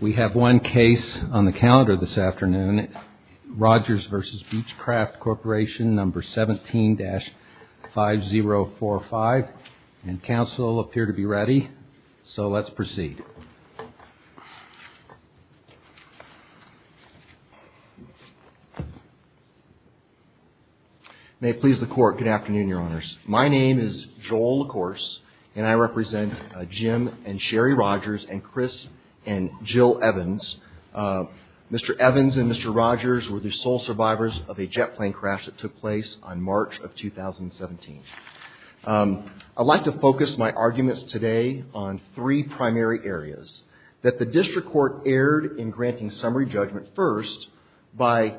We have one case on the calendar this afternoon, Rogers v. Beechcraft Corporation, number 17-5045, and counsel appear to be ready, so let's proceed. May it please the Court, good afternoon, Your Honors. My name is Joel LaCourse, and I represent Jim and Sherry Rogers and Chris and Jill Evans. Mr. Evans and Mr. Rogers were the sole survivors of a jet plane crash that took place on March of 2017. I'd like to focus my arguments today on three primary areas. That the district court erred in granting summary judgment first by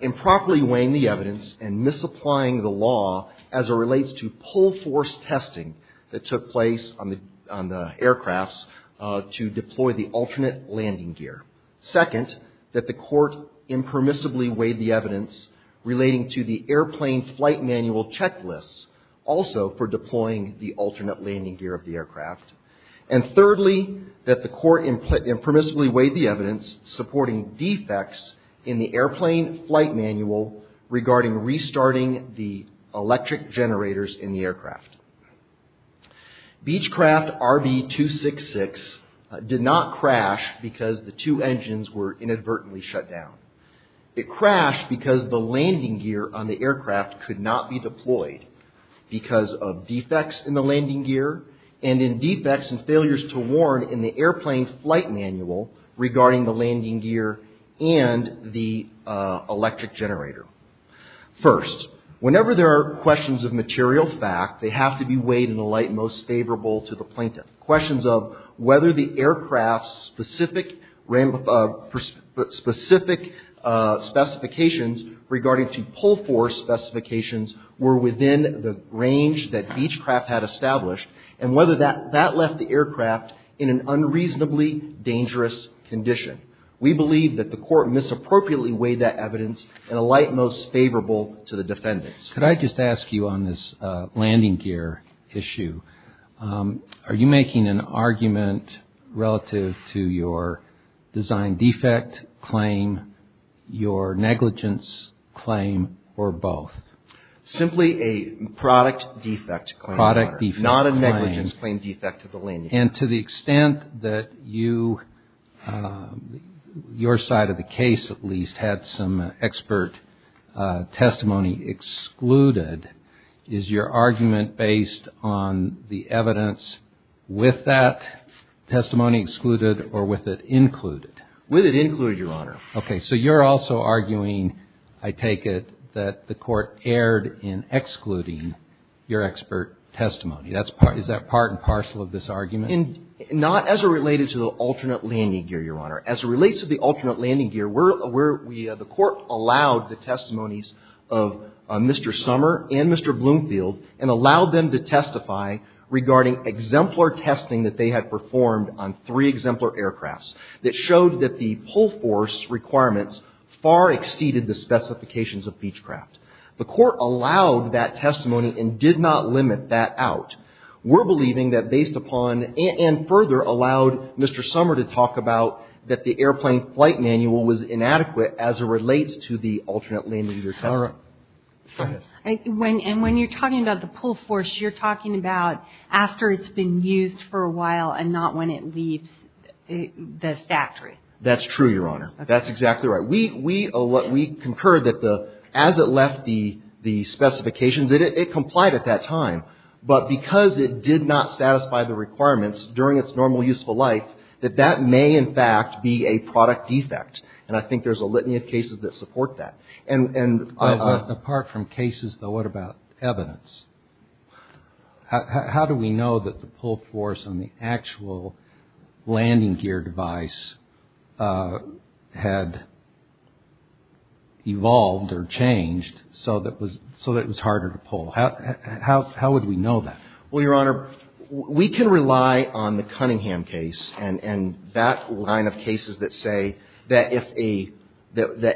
improperly weighing the evidence and misapplying the law as it relates to pull-force testing that took place on the aircrafts to deploy the alternate landing gear. Second, that the court impermissibly weighed the evidence relating to the airplane flight manual checklists, also for deploying the alternate landing gear of the aircraft. And thirdly, that the court impermissibly weighed the evidence supporting defects in the airplane flight manual regarding restarting the electric generators in the aircraft. Beechcraft RB266 did not crash because the two engines were inadvertently shut down. It crashed because the landing gear on the aircraft could not be deployed because of defects in the landing gear and in defects and failures to warn in the airplane flight manual regarding the landing gear and the electric generator. First, whenever there are questions of material fact, they have to be weighed in the light most favorable to the plaintiff. Questions of whether the aircraft's specific specifications regarding to pull-force specifications were within the range that Beechcraft had established, and whether that left the aircraft in an unreasonably dangerous condition. We believe that the court misappropriately weighed that evidence in a light most favorable to the defendants. Could I just ask you on this landing gear issue, are you making an argument relative to your design defect claim, your negligence claim, or both? Simply a product defect claim. Product defect claim. Not a negligence claim defect to the landing gear. And to the extent that you, your side of the case at least, had some expert testimony excluded, is your argument based on the evidence with that testimony excluded or with it included? With it included, Your Honor. Okay. So you're also arguing, I take it, that the court erred in excluding your expert testimony. Is that part and parcel of this argument? Not as it related to the alternate landing gear, Your Honor. As it relates to the alternate landing gear, the court allowed the testimonies of Mr. Sommer and Mr. Bloomfield and allowed them to testify regarding exemplar testing that they had performed on three exemplar aircrafts that showed that the pull-force requirements far exceeded the specifications of Beechcraft. The court allowed that testimony and did not limit that out. We're believing that based upon and further allowed Mr. Sommer to talk about that the airplane flight manual was inadequate as it relates to the alternate landing gear test. All right. Go ahead. And when you're talking about the pull-force, you're talking about after it's been used for a while and not when it leaves the factory. That's true, Your Honor. That's exactly right. We concur that as it left the specifications, it complied at that time. But because it did not satisfy the requirements during its normal useful life, that that may, in fact, be a product defect. And I think there's a litany of cases that support that. Apart from cases, though, what about evidence? How do we know that the pull-force on the actual landing gear device had evolved or changed so that it was harder to pull? How would we know that? Well, Your Honor, we can rely on the Cunningham case and that line of cases that say that if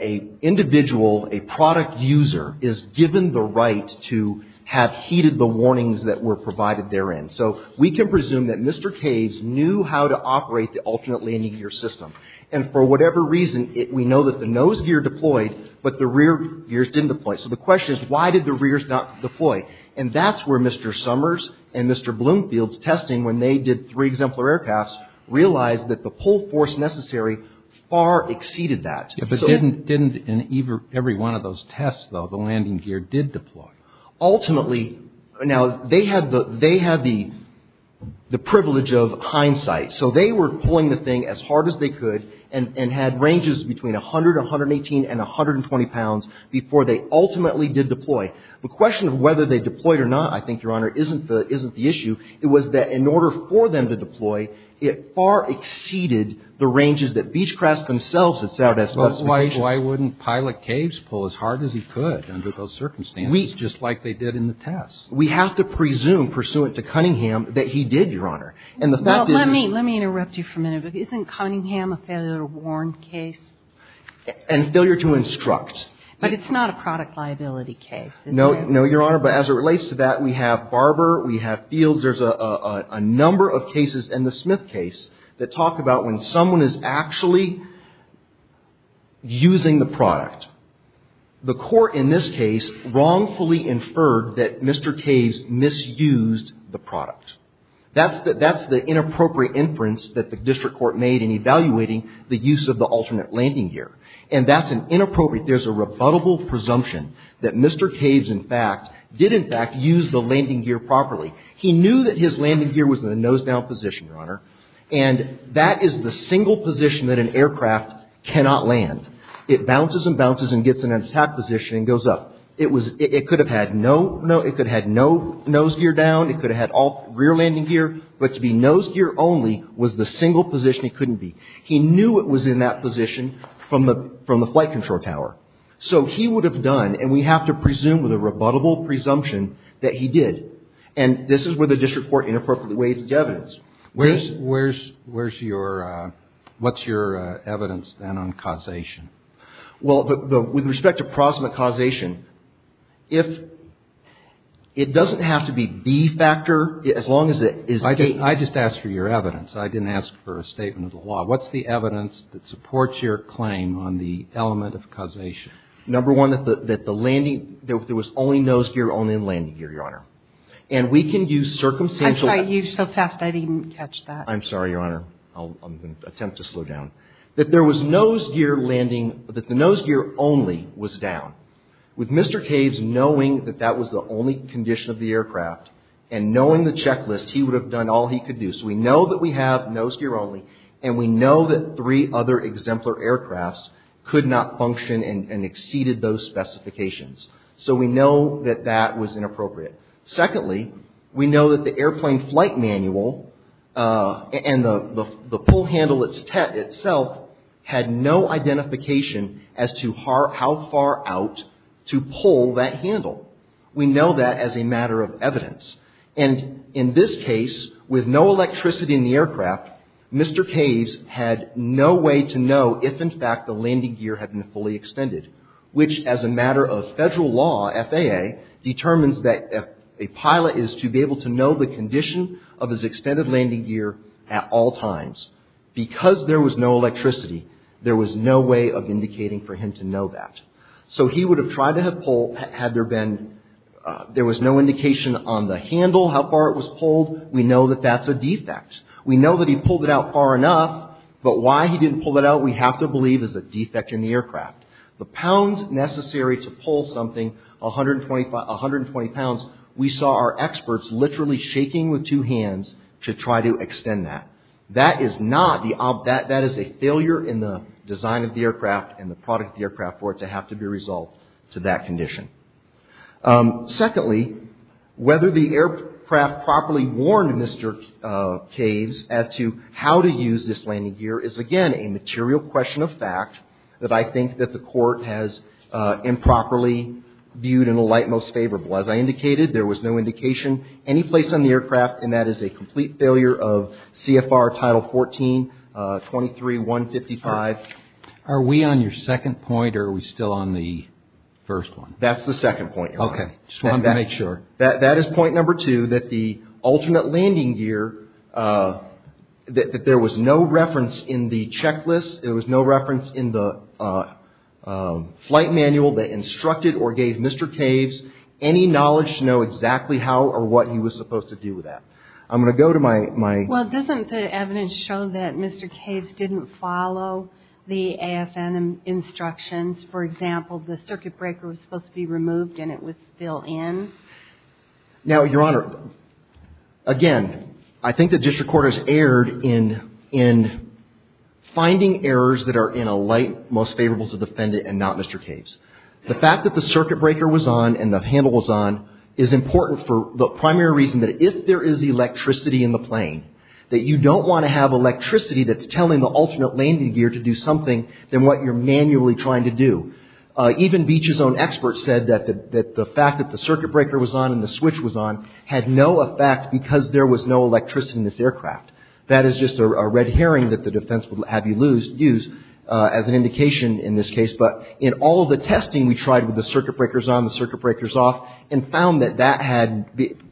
an individual, a product user, is given the right to have heeded the warnings that were provided therein. So we can presume that Mr. Caves knew how to operate the alternate landing gear system. And for whatever reason, we know that the nose gear deployed, but the rear gears didn't deploy. So the question is, why did the rears not deploy? And that's where Mr. Summers and Mr. Bloomfield's testing when they did three exemplar aircrafts realized that the pull-force necessary far exceeded that. But didn't in every one of those tests, though, the landing gear did deploy? Ultimately, now, they had the privilege of hindsight. So they were pulling the thing as hard as they could and had ranges between 100, 118, and 120 pounds before they ultimately did deploy. The question of whether they deployed or not, I think, Your Honor, isn't the issue. It was that in order for them to deploy, it far exceeded the ranges that Beechcraft themselves had set as specifications. But why wouldn't Pilot Caves pull as hard as he could under those circumstances? Just like they did in the tests. We have to presume, pursuant to Cunningham, that he did, Your Honor. And the fact is he did. Well, let me interrupt you for a minute. Isn't Cunningham a failure to warn case? And failure to instruct. But it's not a product liability case, is it? No, Your Honor. But as it relates to that, we have Barber. We have Fields. There's a number of cases in the Smith case that talk about when someone is actually using the product. The court in this case wrongfully inferred that Mr. Caves misused the product. That's the inappropriate inference that the district court made in evaluating the use of the alternate landing gear. And that's inappropriate. There's a rebuttable presumption that Mr. Caves, in fact, did, in fact, use the landing gear properly. He knew that his landing gear was in the nose-down position, Your Honor. And that is the single position that an aircraft cannot land. It bounces and bounces and gets in an attack position and goes up. It could have had no nose gear down. It could have had all rear landing gear. But to be nose gear only was the single position it couldn't be. He knew it was in that position from the flight control tower. So he would have done, and we have to presume with a rebuttable presumption, that he did. And this is where the district court inappropriately waives the evidence. What's your evidence, then, on causation? Well, with respect to proximate causation, it doesn't have to be B factor as long as it is the case. I just asked for your evidence. I didn't ask for a statement of the law. What's the evidence that supports your claim on the element of causation? Number one, that the landing, there was only nose gear only in landing gear, Your Honor. And we can use circumstantial evidence. I tried to use so fast I didn't catch that. I'm sorry, Your Honor. I'll attempt to slow down. That there was nose gear landing, that the nose gear only was down. With Mr. Caves knowing that that was the only condition of the aircraft and knowing the checklist, he would have done all he could do. We know that we have nose gear only. And we know that three other exemplar aircrafts could not function and exceeded those specifications. So we know that that was inappropriate. Secondly, we know that the airplane flight manual and the pull handle itself had no identification as to how far out to pull that handle. We know that as a matter of evidence. And in this case, with no electricity in the aircraft, Mr. Caves had no way to know if, in fact, the landing gear had been fully extended. Which, as a matter of federal law, FAA, determines that a pilot is to be able to know the condition of his extended landing gear at all times. Because there was no electricity, there was no way of indicating for him to know that. So he would have tried to have pulled, had there been, there was no indication on the handle how far it was pulled, we know that that's a defect. We know that he pulled it out far enough, but why he didn't pull it out, we have to believe is a defect in the aircraft. The pounds necessary to pull something, 120 pounds, we saw our experts literally shaking with two hands to try to extend that. That is not the, that is a failure in the design of the aircraft and the product of the aircraft for it to have to be resolved to that condition. Secondly, whether the aircraft properly warned Mr. Caves as to how to use this landing gear is, again, a material question of fact that I think that the court has improperly viewed in the light most favorable. As I indicated, there was no indication any place on the aircraft and that is a complete failure of CFR Title 14-23-155. Are we on your second point or are we still on the first one? That's the second point. Okay. Just wanted to make sure. That is point number two, that the alternate landing gear, that there was no reference in the checklist. There was no reference in the flight manual that instructed or gave Mr. Caves any knowledge to know exactly how or what he was supposed to do with that. I'm going to go to my... Well, doesn't the evidence show that Mr. Caves didn't follow the AFN instructions? For example, the circuit breaker was supposed to be removed and it was still in. Now, Your Honor, again, I think the district court has erred in finding errors that are in a light most favorable to the defendant and not Mr. Caves. The fact that the circuit breaker was on and the handle was on is important for the primary reason that if there is electricity in the plane, that you don't want to have electricity that's telling the alternate landing gear to do something than what you're manually trying to do. Even Beach's own expert said that the fact that the circuit breaker was on and the switch was on had no effect because there was no electricity in this aircraft. That is just a red herring that the defense would have you use as an indication in this case. But in all of the testing we tried with the circuit breakers on, the circuit breakers off, and found that that had,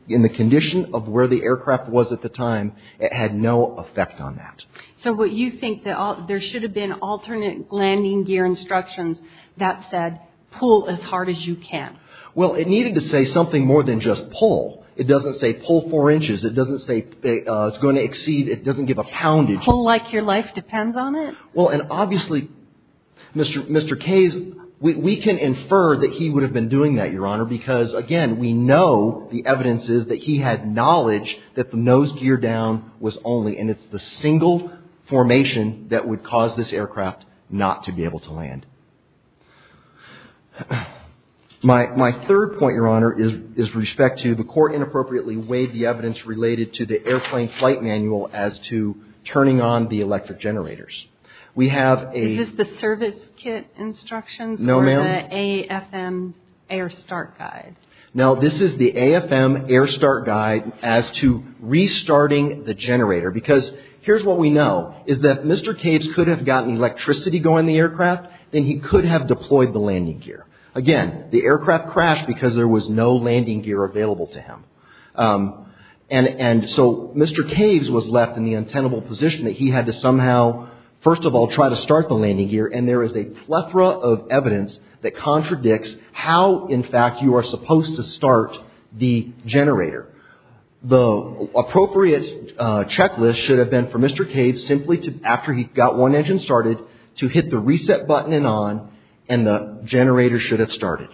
in the condition of where the aircraft was at the time, it had no effect on that. So what you think that there should have been alternate landing gear instructions that said pull as hard as you can? Well, it needed to say something more than just pull. It doesn't say pull four inches. It doesn't say it's going to exceed. It doesn't give a poundage. Pull like your life depends on it? Well, and obviously, Mr. Caves, we can infer that he would have been doing that, Your Honor, because, again, we know the evidence is that he had knowledge that the nose gear down was only, and it's the single formation that would cause this aircraft not to be able to land. My third point, Your Honor, is with respect to the court inappropriately weighed the evidence related to the airplane flight manual as to turning on the electric generators. We have a... Is this the service kit instructions? No, ma'am. This is the AFM air start guide. Now, this is the AFM air start guide as to restarting the generator, because here's what we know is that if Mr. Caves could have gotten electricity going in the aircraft, then he could have deployed the landing gear. Again, the aircraft crashed because there was no landing gear available to him. And so Mr. Caves was left in the untenable position that he had to somehow, first of all, try to start the landing gear, and there is a plethora of evidence that contradicts how, in fact, you are supposed to start the generator. The appropriate checklist should have been for Mr. Caves, simply after he got one engine started, to hit the reset button and on, and the generator should have started.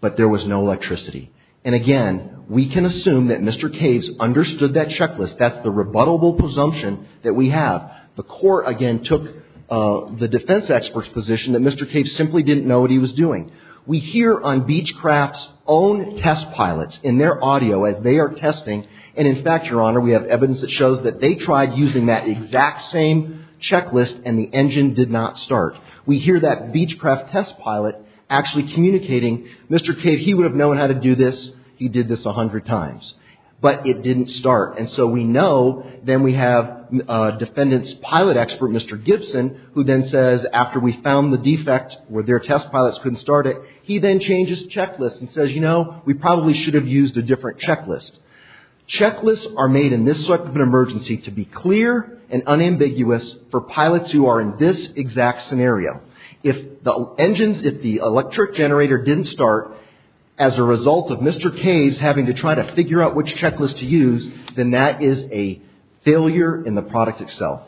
But there was no electricity. And, again, we can assume that Mr. Caves understood that checklist. That's the rebuttable presumption that we have. The court, again, took the defense expert's position that Mr. Caves simply didn't know what he was doing. We hear on Beechcraft's own test pilots in their audio as they are testing, and, in fact, Your Honor, we have evidence that shows that they tried using that exact same checklist and the engine did not start. We hear that Beechcraft test pilot actually communicating, Mr. Caves, he would have known how to do this. He did this 100 times. But it didn't start. And so we know. Then we have defendant's pilot expert, Mr. Gibson, who then says, after we found the defect where their test pilots couldn't start it, he then changes the checklist and says, you know, we probably should have used a different checklist. Checklists are made in this type of an emergency to be clear and unambiguous for pilots who are in this exact scenario. If the engines, if the electric generator didn't start as a result of Mr. Caves having to try to figure out which checklist to use, then that is a failure in the product itself.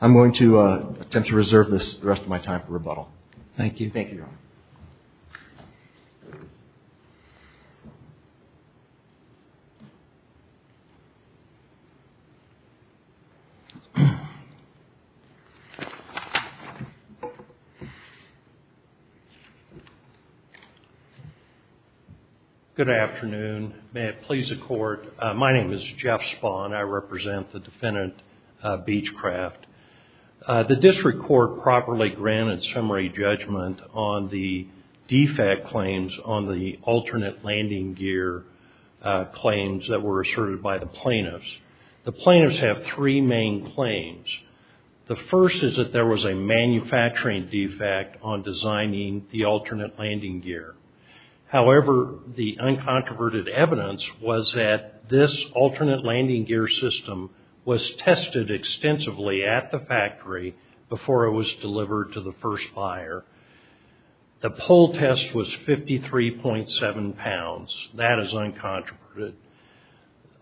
I'm going to attempt to reserve the rest of my time for rebuttal. Thank you. Thank you, Your Honor. Good afternoon. May it please the Court. My name is Jeff Spahn. I represent the defendant, Beechcraft. The district court properly granted summary judgment on the defect claims on the alternate landing gear claims that were asserted by the plaintiffs. The plaintiffs have three main claims. The first is that there was a manufacturing defect on designing the alternate landing gear. However, the uncontroverted evidence was that this alternate landing gear system was tested extensively at the factory before it was delivered to the first buyer. The pull test was 53.7 pounds. That is uncontroverted.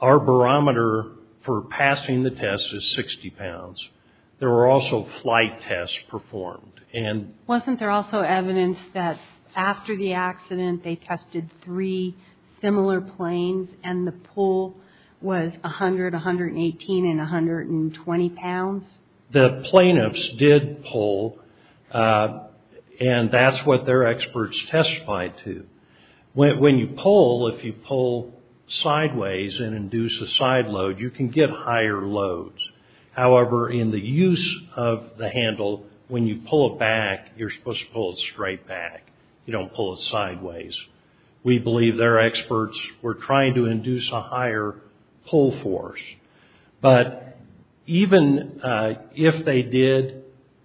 Our barometer for passing the test is 60 pounds. There were also flight tests performed. Wasn't there also evidence that after the accident they tested three similar planes and the pull was 100, 118, and 120 pounds? The plaintiffs did pull, and that's what their experts testified to. When you pull, if you pull sideways and induce a side load, you can get higher loads. However, in the use of the handle, when you pull it back, you're supposed to pull it straight back. You don't pull it sideways. We believe their experts were trying to induce a higher pull force. But even if they did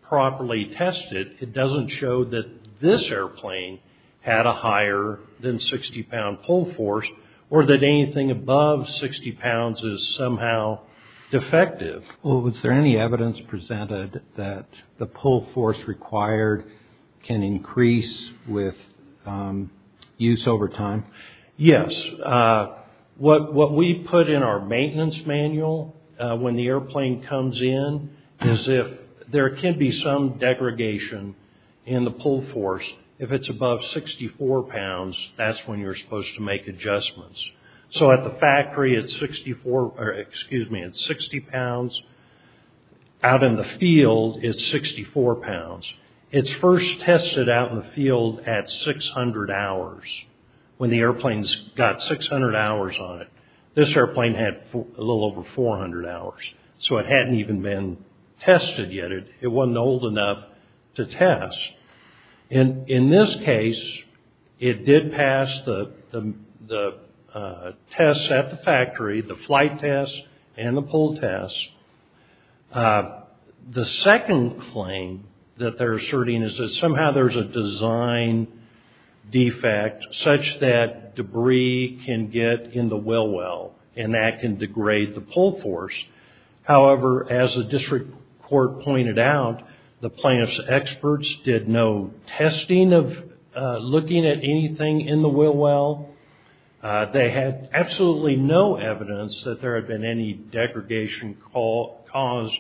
properly test it, it doesn't show that this airplane had a higher than 60-pound pull force or that anything above 60 pounds is somehow defective. Was there any evidence presented that the pull force required can increase with use over time? Yes. What we put in our maintenance manual when the airplane comes in is if there can be some degradation in the pull force. If it's above 64 pounds, that's when you're supposed to make adjustments. So at the factory, it's 60 pounds. Out in the field, it's 64 pounds. It's first tested out in the field at 600 hours, when the airplane's got 600 hours on it. This airplane had a little over 400 hours, so it hadn't even been tested yet. It wasn't old enough to test. In this case, it did pass the tests at the factory, the flight test and the pull test. The second claim that they're asserting is that somehow there's a design defect such that debris can get in the wheel well and that can degrade the pull force. However, as the district court pointed out, the plaintiff's experts did no testing of looking at anything in the wheel well. They had absolutely no evidence that there had been any degradation caused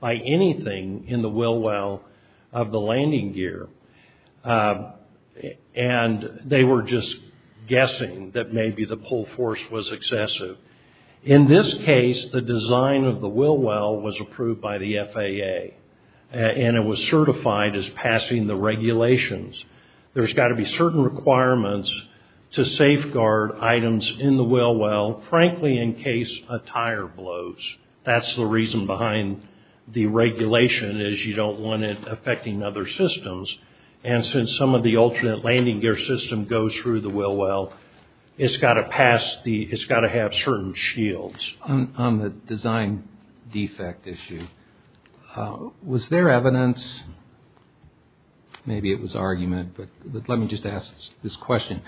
by anything in the wheel well of the landing gear. And they were just guessing that maybe the pull force was excessive. In this case, the design of the wheel well was approved by the FAA, and it was certified as passing the regulations. There's got to be certain requirements to safeguard items in the wheel well, frankly, in case a tire blows. That's the reason behind the regulation is you don't want it affecting other systems. And since some of the alternate landing gear system goes through the wheel well, it's got to have certain shields. On the design defect issue, was there evidence, maybe it was argument, but let me just ask this question,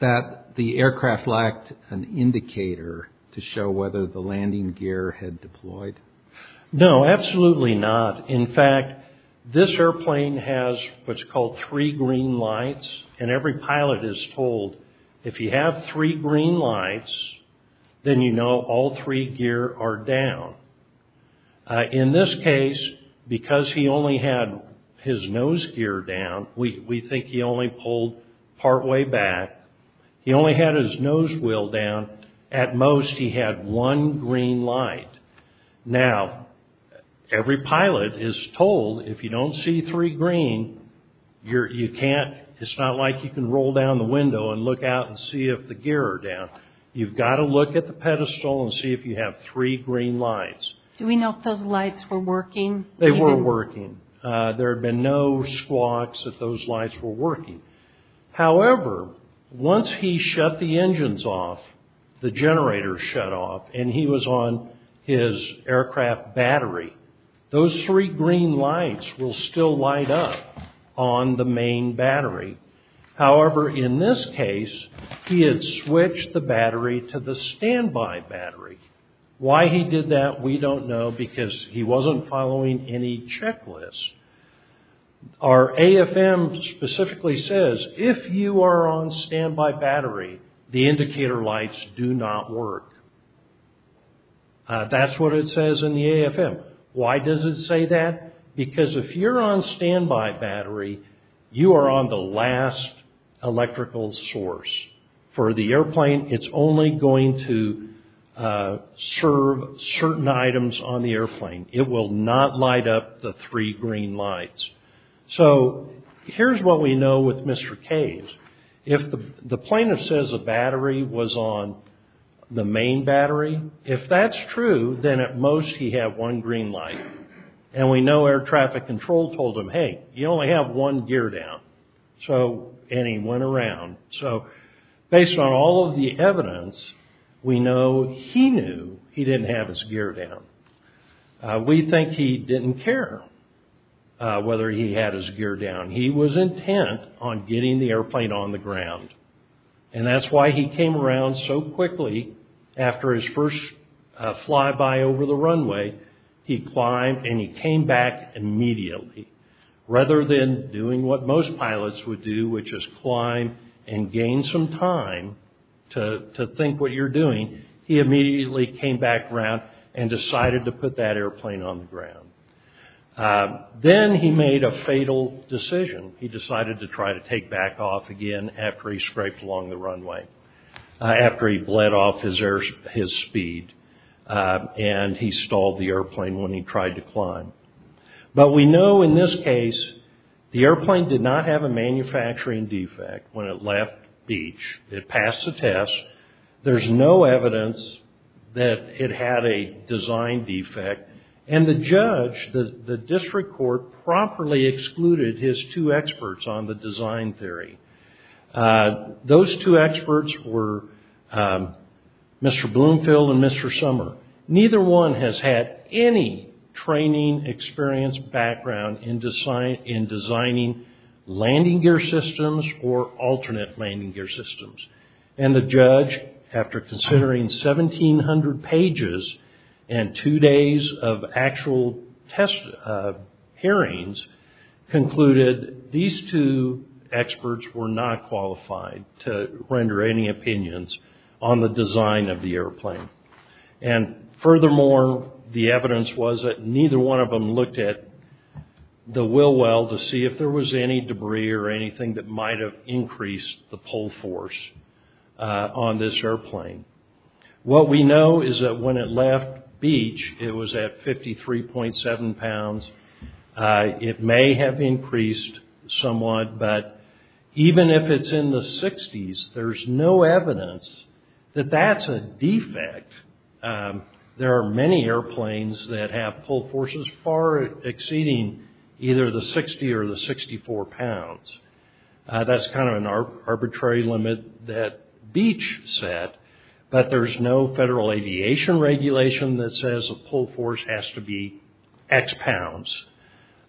that the aircraft lacked an indicator to show whether the landing gear had deployed? No, absolutely not. In fact, this airplane has what's called three green lights. And every pilot is told, if you have three green lights, then you know all three gear are down. In this case, because he only had his nose gear down, we think he only pulled partway back. He only had his nose wheel down. At most, he had one green light. Now, every pilot is told, if you don't see three green, you can't, it's not like you can roll down the window and look out and see if the gear are down. You've got to look at the pedestal and see if you have three green lights. Do we know if those lights were working? They were working. There had been no squawks if those lights were working. However, once he shut the engines off, the generators shut off, and he was on his aircraft battery, those three green lights will still light up on the main battery. However, in this case, he had switched the battery to the standby battery. Why he did that, we don't know, because he wasn't following any checklist. Our AFM specifically says, if you are on standby battery, the indicator lights do not work. That's what it says in the AFM. Why does it say that? Because if you're on standby battery, you are on the last electrical source. For the airplane, it's only going to serve certain items on the airplane. It will not light up the three green lights. So, here's what we know with Mr. Caves. If the plaintiff says the battery was on the main battery, if that's true, then at most he had one green light. And we know air traffic control told him, hey, you only have one gear down. And he went around. So, based on all of the evidence, we know he knew he didn't have his gear down. We think he didn't care whether he had his gear down. He was intent on getting the airplane on the ground. And that's why he came around so quickly. After his first flyby over the runway, he climbed and he came back immediately. Rather than doing what most pilots would do, which is climb and gain some time to think what you're doing, he immediately came back around and decided to put that airplane on the ground. Then he made a fatal decision. He decided to try to take back off again after he scraped along the runway, after he bled off his speed. And he stalled the airplane when he tried to climb. But we know in this case, the airplane did not have a manufacturing defect when it left beach. It passed the test. There's no evidence that it had a design defect. And the judge, the district court, properly excluded his two experts on the design theory. Those two experts were Mr. Bloomfield and Mr. Sommer. Neither one has had any training, experience, background in designing landing gear systems or alternate landing gear systems. And the judge, after considering 1,700 pages and two days of actual test hearings, concluded these two experts were not qualified to render any opinions on the design of the airplane. And furthermore, the evidence was that neither one of them looked at the wheel well to see if there was any debris or anything that might have increased the pull force on this airplane. What we know is that when it left beach, it was at 53.7 pounds. It may have increased somewhat, but even if it's in the 60s, there's no evidence that that's a defect. There are many airplanes that have pull forces far exceeding either the 60 or the 64 pounds. That's kind of an arbitrary limit that beach set, but there's no federal aviation regulation that says a pull force has to be X pounds.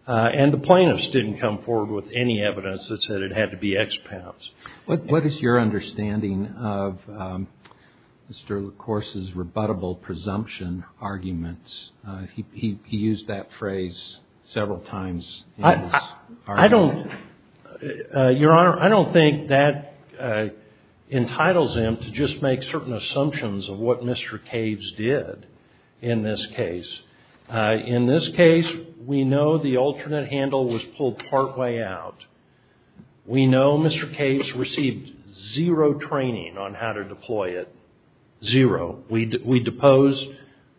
And the plaintiffs didn't come forward with any evidence that said it had to be X pounds. What is your understanding of Mr. LaCourse's rebuttable presumption arguments? He used that phrase several times in his argument. Your Honor, I don't think that entitles him to just make certain assumptions of what Mr. Caves did in this case. In this case, we know the alternate handle was pulled partway out. We know Mr. Caves received zero training on how to deploy it. Zero. We deposed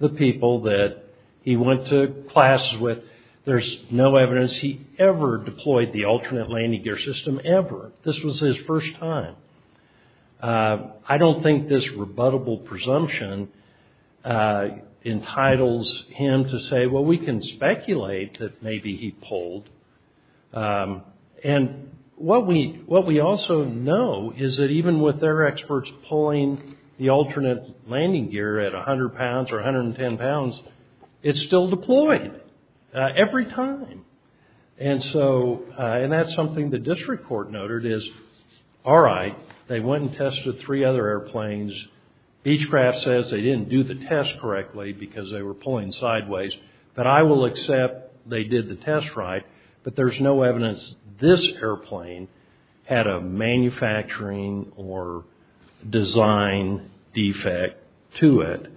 the people that he went to classes with. There's no evidence he ever deployed the alternate landing gear system ever. This was his first time. I don't think this rebuttable presumption entitles him to say, well, we can speculate that maybe he pulled. And what we also know is that even with their experts pulling the alternate landing gear at 100 pounds or 110 pounds, it's still deployed every time. And that's something the district court noted is, all right, they went and tested three other airplanes. Beechcraft says they didn't do the test correctly because they were pulling sideways. But I will accept they did the test right. But there's no evidence this airplane had a manufacturing or design defect to it.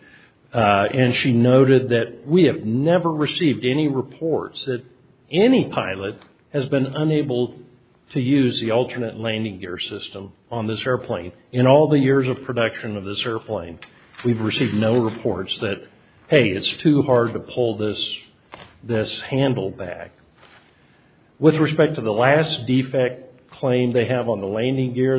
And she noted that we have never received any reports that any pilot has been unable to use the alternate landing gear system on this airplane. In all the years of production of this airplane, we've received no reports that, hey, it's too hard to pull this handle back. With respect to the last defect claim they have on the landing gear,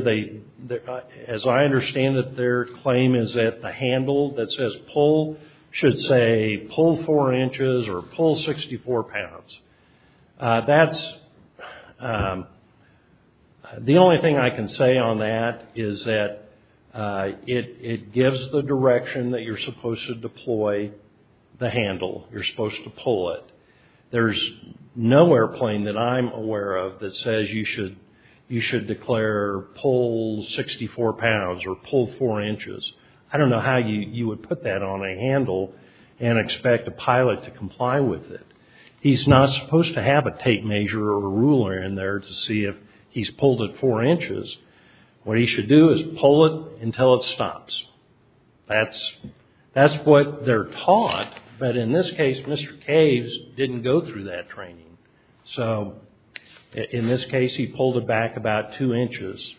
as I understand it, their claim is that the handle that says pull should say pull four inches or pull 64 pounds. That's the only thing I can say on that is that it gives the direction that you're supposed to deploy the handle. You're supposed to pull it. There's no airplane that I'm aware of that says you should declare pull 64 pounds or pull four inches. I don't know how you would put that on a handle and expect a pilot to comply with it. He's not supposed to have a tape measure or a ruler in there to see if he's pulled it four inches. What he should do is pull it until it stops. That's what they're taught. But in this case, Mr. Caves didn't go through that training. So, in this case, he pulled it back about two inches.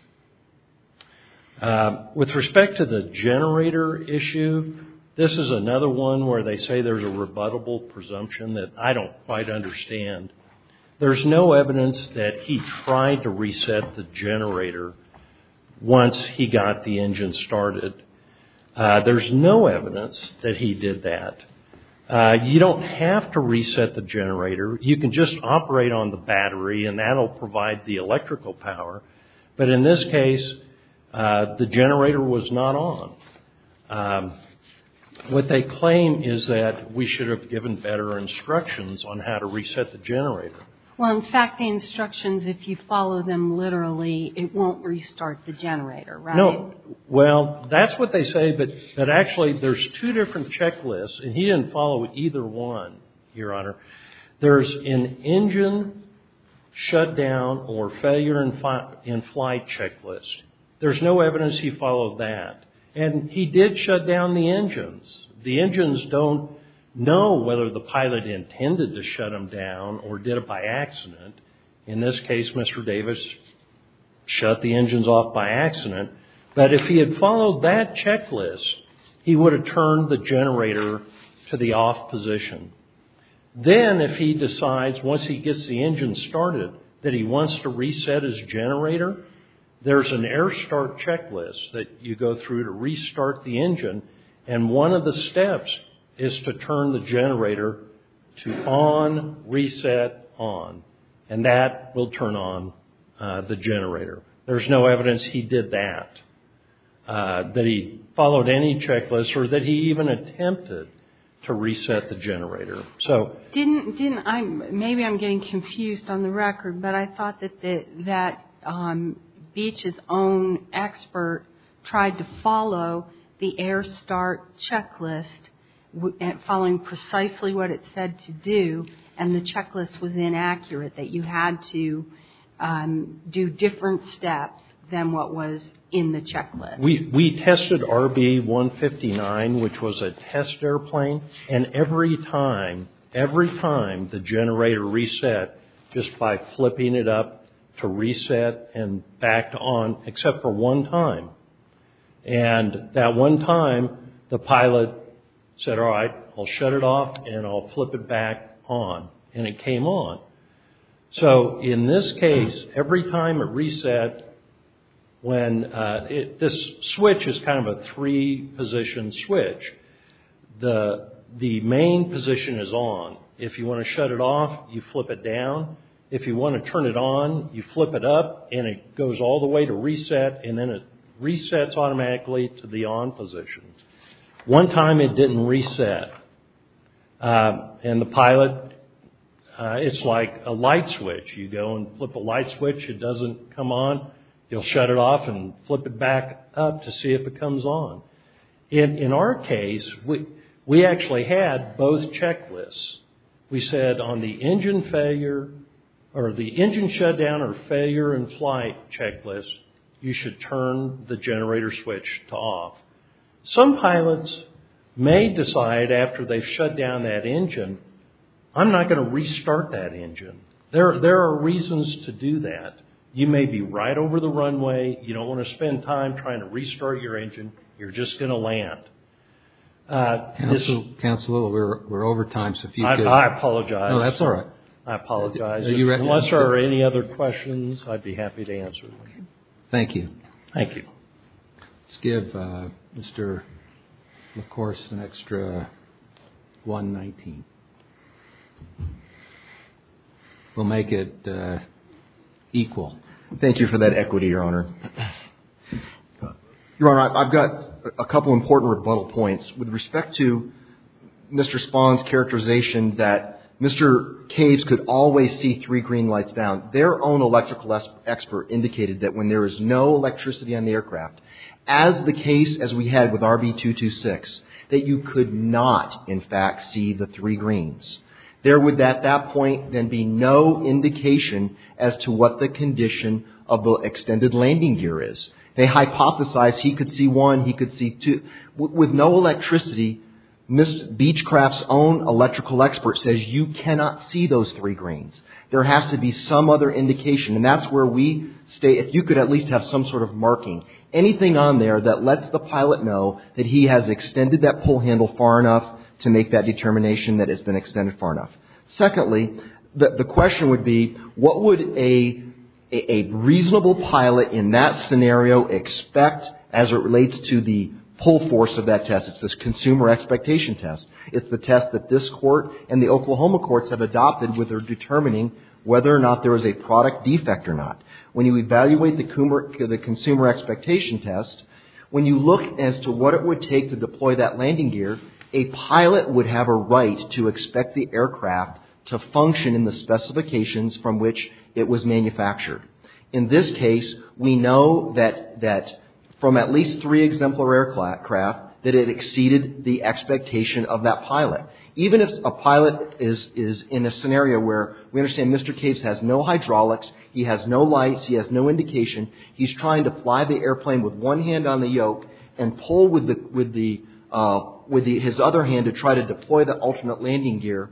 With respect to the generator issue, this is another one where they say there's a rebuttable presumption that I don't quite understand. There's no evidence that he tried to reset the generator once he got the engine started. There's no evidence that he did that. You don't have to reset the generator. You can just operate on the battery and that will provide the electrical power. But in this case, the generator was not on. What they claim is that we should have given better instructions on how to reset the generator. Well, in fact, the instructions, if you follow them literally, it won't restart the generator, right? No. Well, that's what they say. But actually, there's two different checklists. And he didn't follow either one, Your Honor. There's an engine shutdown or failure in flight checklist. There's no evidence he followed that. And he did shut down the engines. The engines don't know whether the pilot intended to shut them down or did it by accident. In this case, Mr. Davis shut the engines off by accident. But if he had followed that checklist, he would have turned the generator to the off position. Then if he decides, once he gets the engine started, that he wants to reset his generator, there's an air start checklist that you go through to restart the engine. And one of the steps is to turn the generator to on, reset, on. And that will turn on the generator. There's no evidence he did that. That he followed any checklist or that he even attempted to reset the generator. Maybe I'm getting confused on the record, but I thought that Beach's own expert tried to follow the air start checklist, following precisely what it said to do, and the checklist was inaccurate, that you had to do different steps than what was in the checklist. We tested RB159, which was a test airplane. And every time, every time, the generator reset just by flipping it up to reset and back to on, except for one time. And that one time, the pilot said, all right, I'll shut it off and I'll flip it back on. And it came on. So in this case, every time it reset, when this switch is kind of a three-position switch, the main position is on. If you want to shut it off, you flip it down. If you want to turn it on, you flip it up and it goes all the way to reset, and then it resets automatically to the on position. One time it didn't reset. And the pilot, it's like a light switch. You go and flip a light switch, it doesn't come on, you'll shut it off and flip it back up to see if it comes on. In our case, we actually had both checklists. We said on the engine failure or the engine shutdown or failure in flight checklist, you should turn the generator switch to off. Some pilots may decide after they've shut down that engine, I'm not going to restart that engine. There are reasons to do that. You may be right over the runway, you don't want to spend time trying to restart your engine, you're just going to land. Counselor, we're over time. I apologize. No, that's all right. I apologize. Unless there are any other questions, I'd be happy to answer them. Thank you. Thank you. Let's give Mr. LaCourse an extra $119. We'll make it equal. Thank you for that equity, Your Honor. Your Honor, I've got a couple important rebuttal points. With respect to Mr. Spahn's characterization that Mr. Caves could always see three green lights down, their own electrical expert indicated that when there is no electricity on the aircraft, as the case as we had with RB226, that you could not, in fact, see the three greens. There would, at that point, then be no indication as to what the condition of the extended landing gear is. They hypothesized he could see one, he could see two. With no electricity, Beechcraft's own electrical expert says you cannot see those three greens. There has to be some other indication, and that's where we state, if you could at least have some sort of marking, anything on there that lets the pilot know that he has extended that pull handle far enough to make that determination that it's been extended far enough. Secondly, the question would be, what would a reasonable pilot in that scenario expect as it relates to the pull force of that test? It's this consumer expectation test. It's the test that this court and the Oklahoma courts have adopted with their determining whether or not there is a product defect or not. When you evaluate the consumer expectation test, when you look as to what it would take to deploy that landing gear, a pilot would have a right to expect the aircraft to function in the specifications from which it was manufactured. In this case, we know that from at least three exemplar aircraft, that it exceeded the expectation of that pilot. Even if a pilot is in a scenario where we understand Mr. Case has no hydraulics, he has no lights, he has no indication, he's trying to fly the airplane with one hand on the yoke and pull with his other hand to try to deploy the alternate landing gear,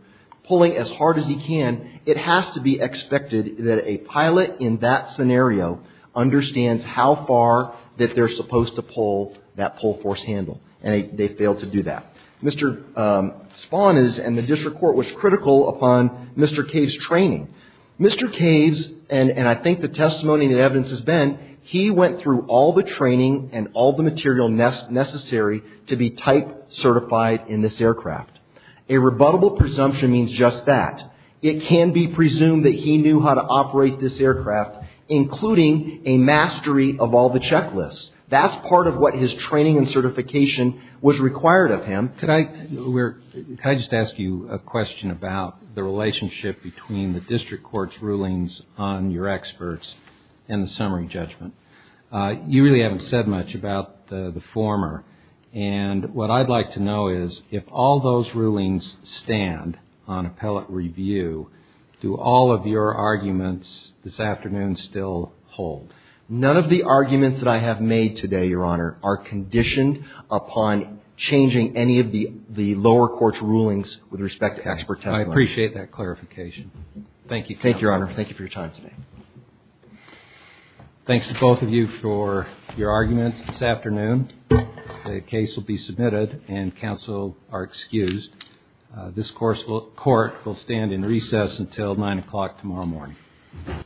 pulling as hard as he can, it has to be expected that a pilot in that scenario understands how far that they're supposed to pull that pull force handle. And they failed to do that. Mr. Spahn and the district court was critical upon Mr. Case's training. Mr. Case, and I think the testimony and evidence has been, he went through all the training and all the material necessary to be type certified in this aircraft. A rebuttable presumption means just that. It can be presumed that he knew how to operate this aircraft, including a mastery of all the checklists. That's part of what his training and certification was required of him. Can I just ask you a question about the relationship between the district court's rulings on your experts and the summary judgment? You really haven't said much about the former. And what I'd like to know is if all those rulings stand on appellate review, do all of your arguments this afternoon still hold? None of the arguments that I have made today, Your Honor, are conditioned upon changing any of the lower court's rulings with respect to expert testimony. I appreciate that clarification. Thank you, Your Honor. Thank you for your time today. Thanks to both of you for your arguments this afternoon. The case will be submitted and counsel are excused. This court will stand in recess until 9 o'clock tomorrow morning.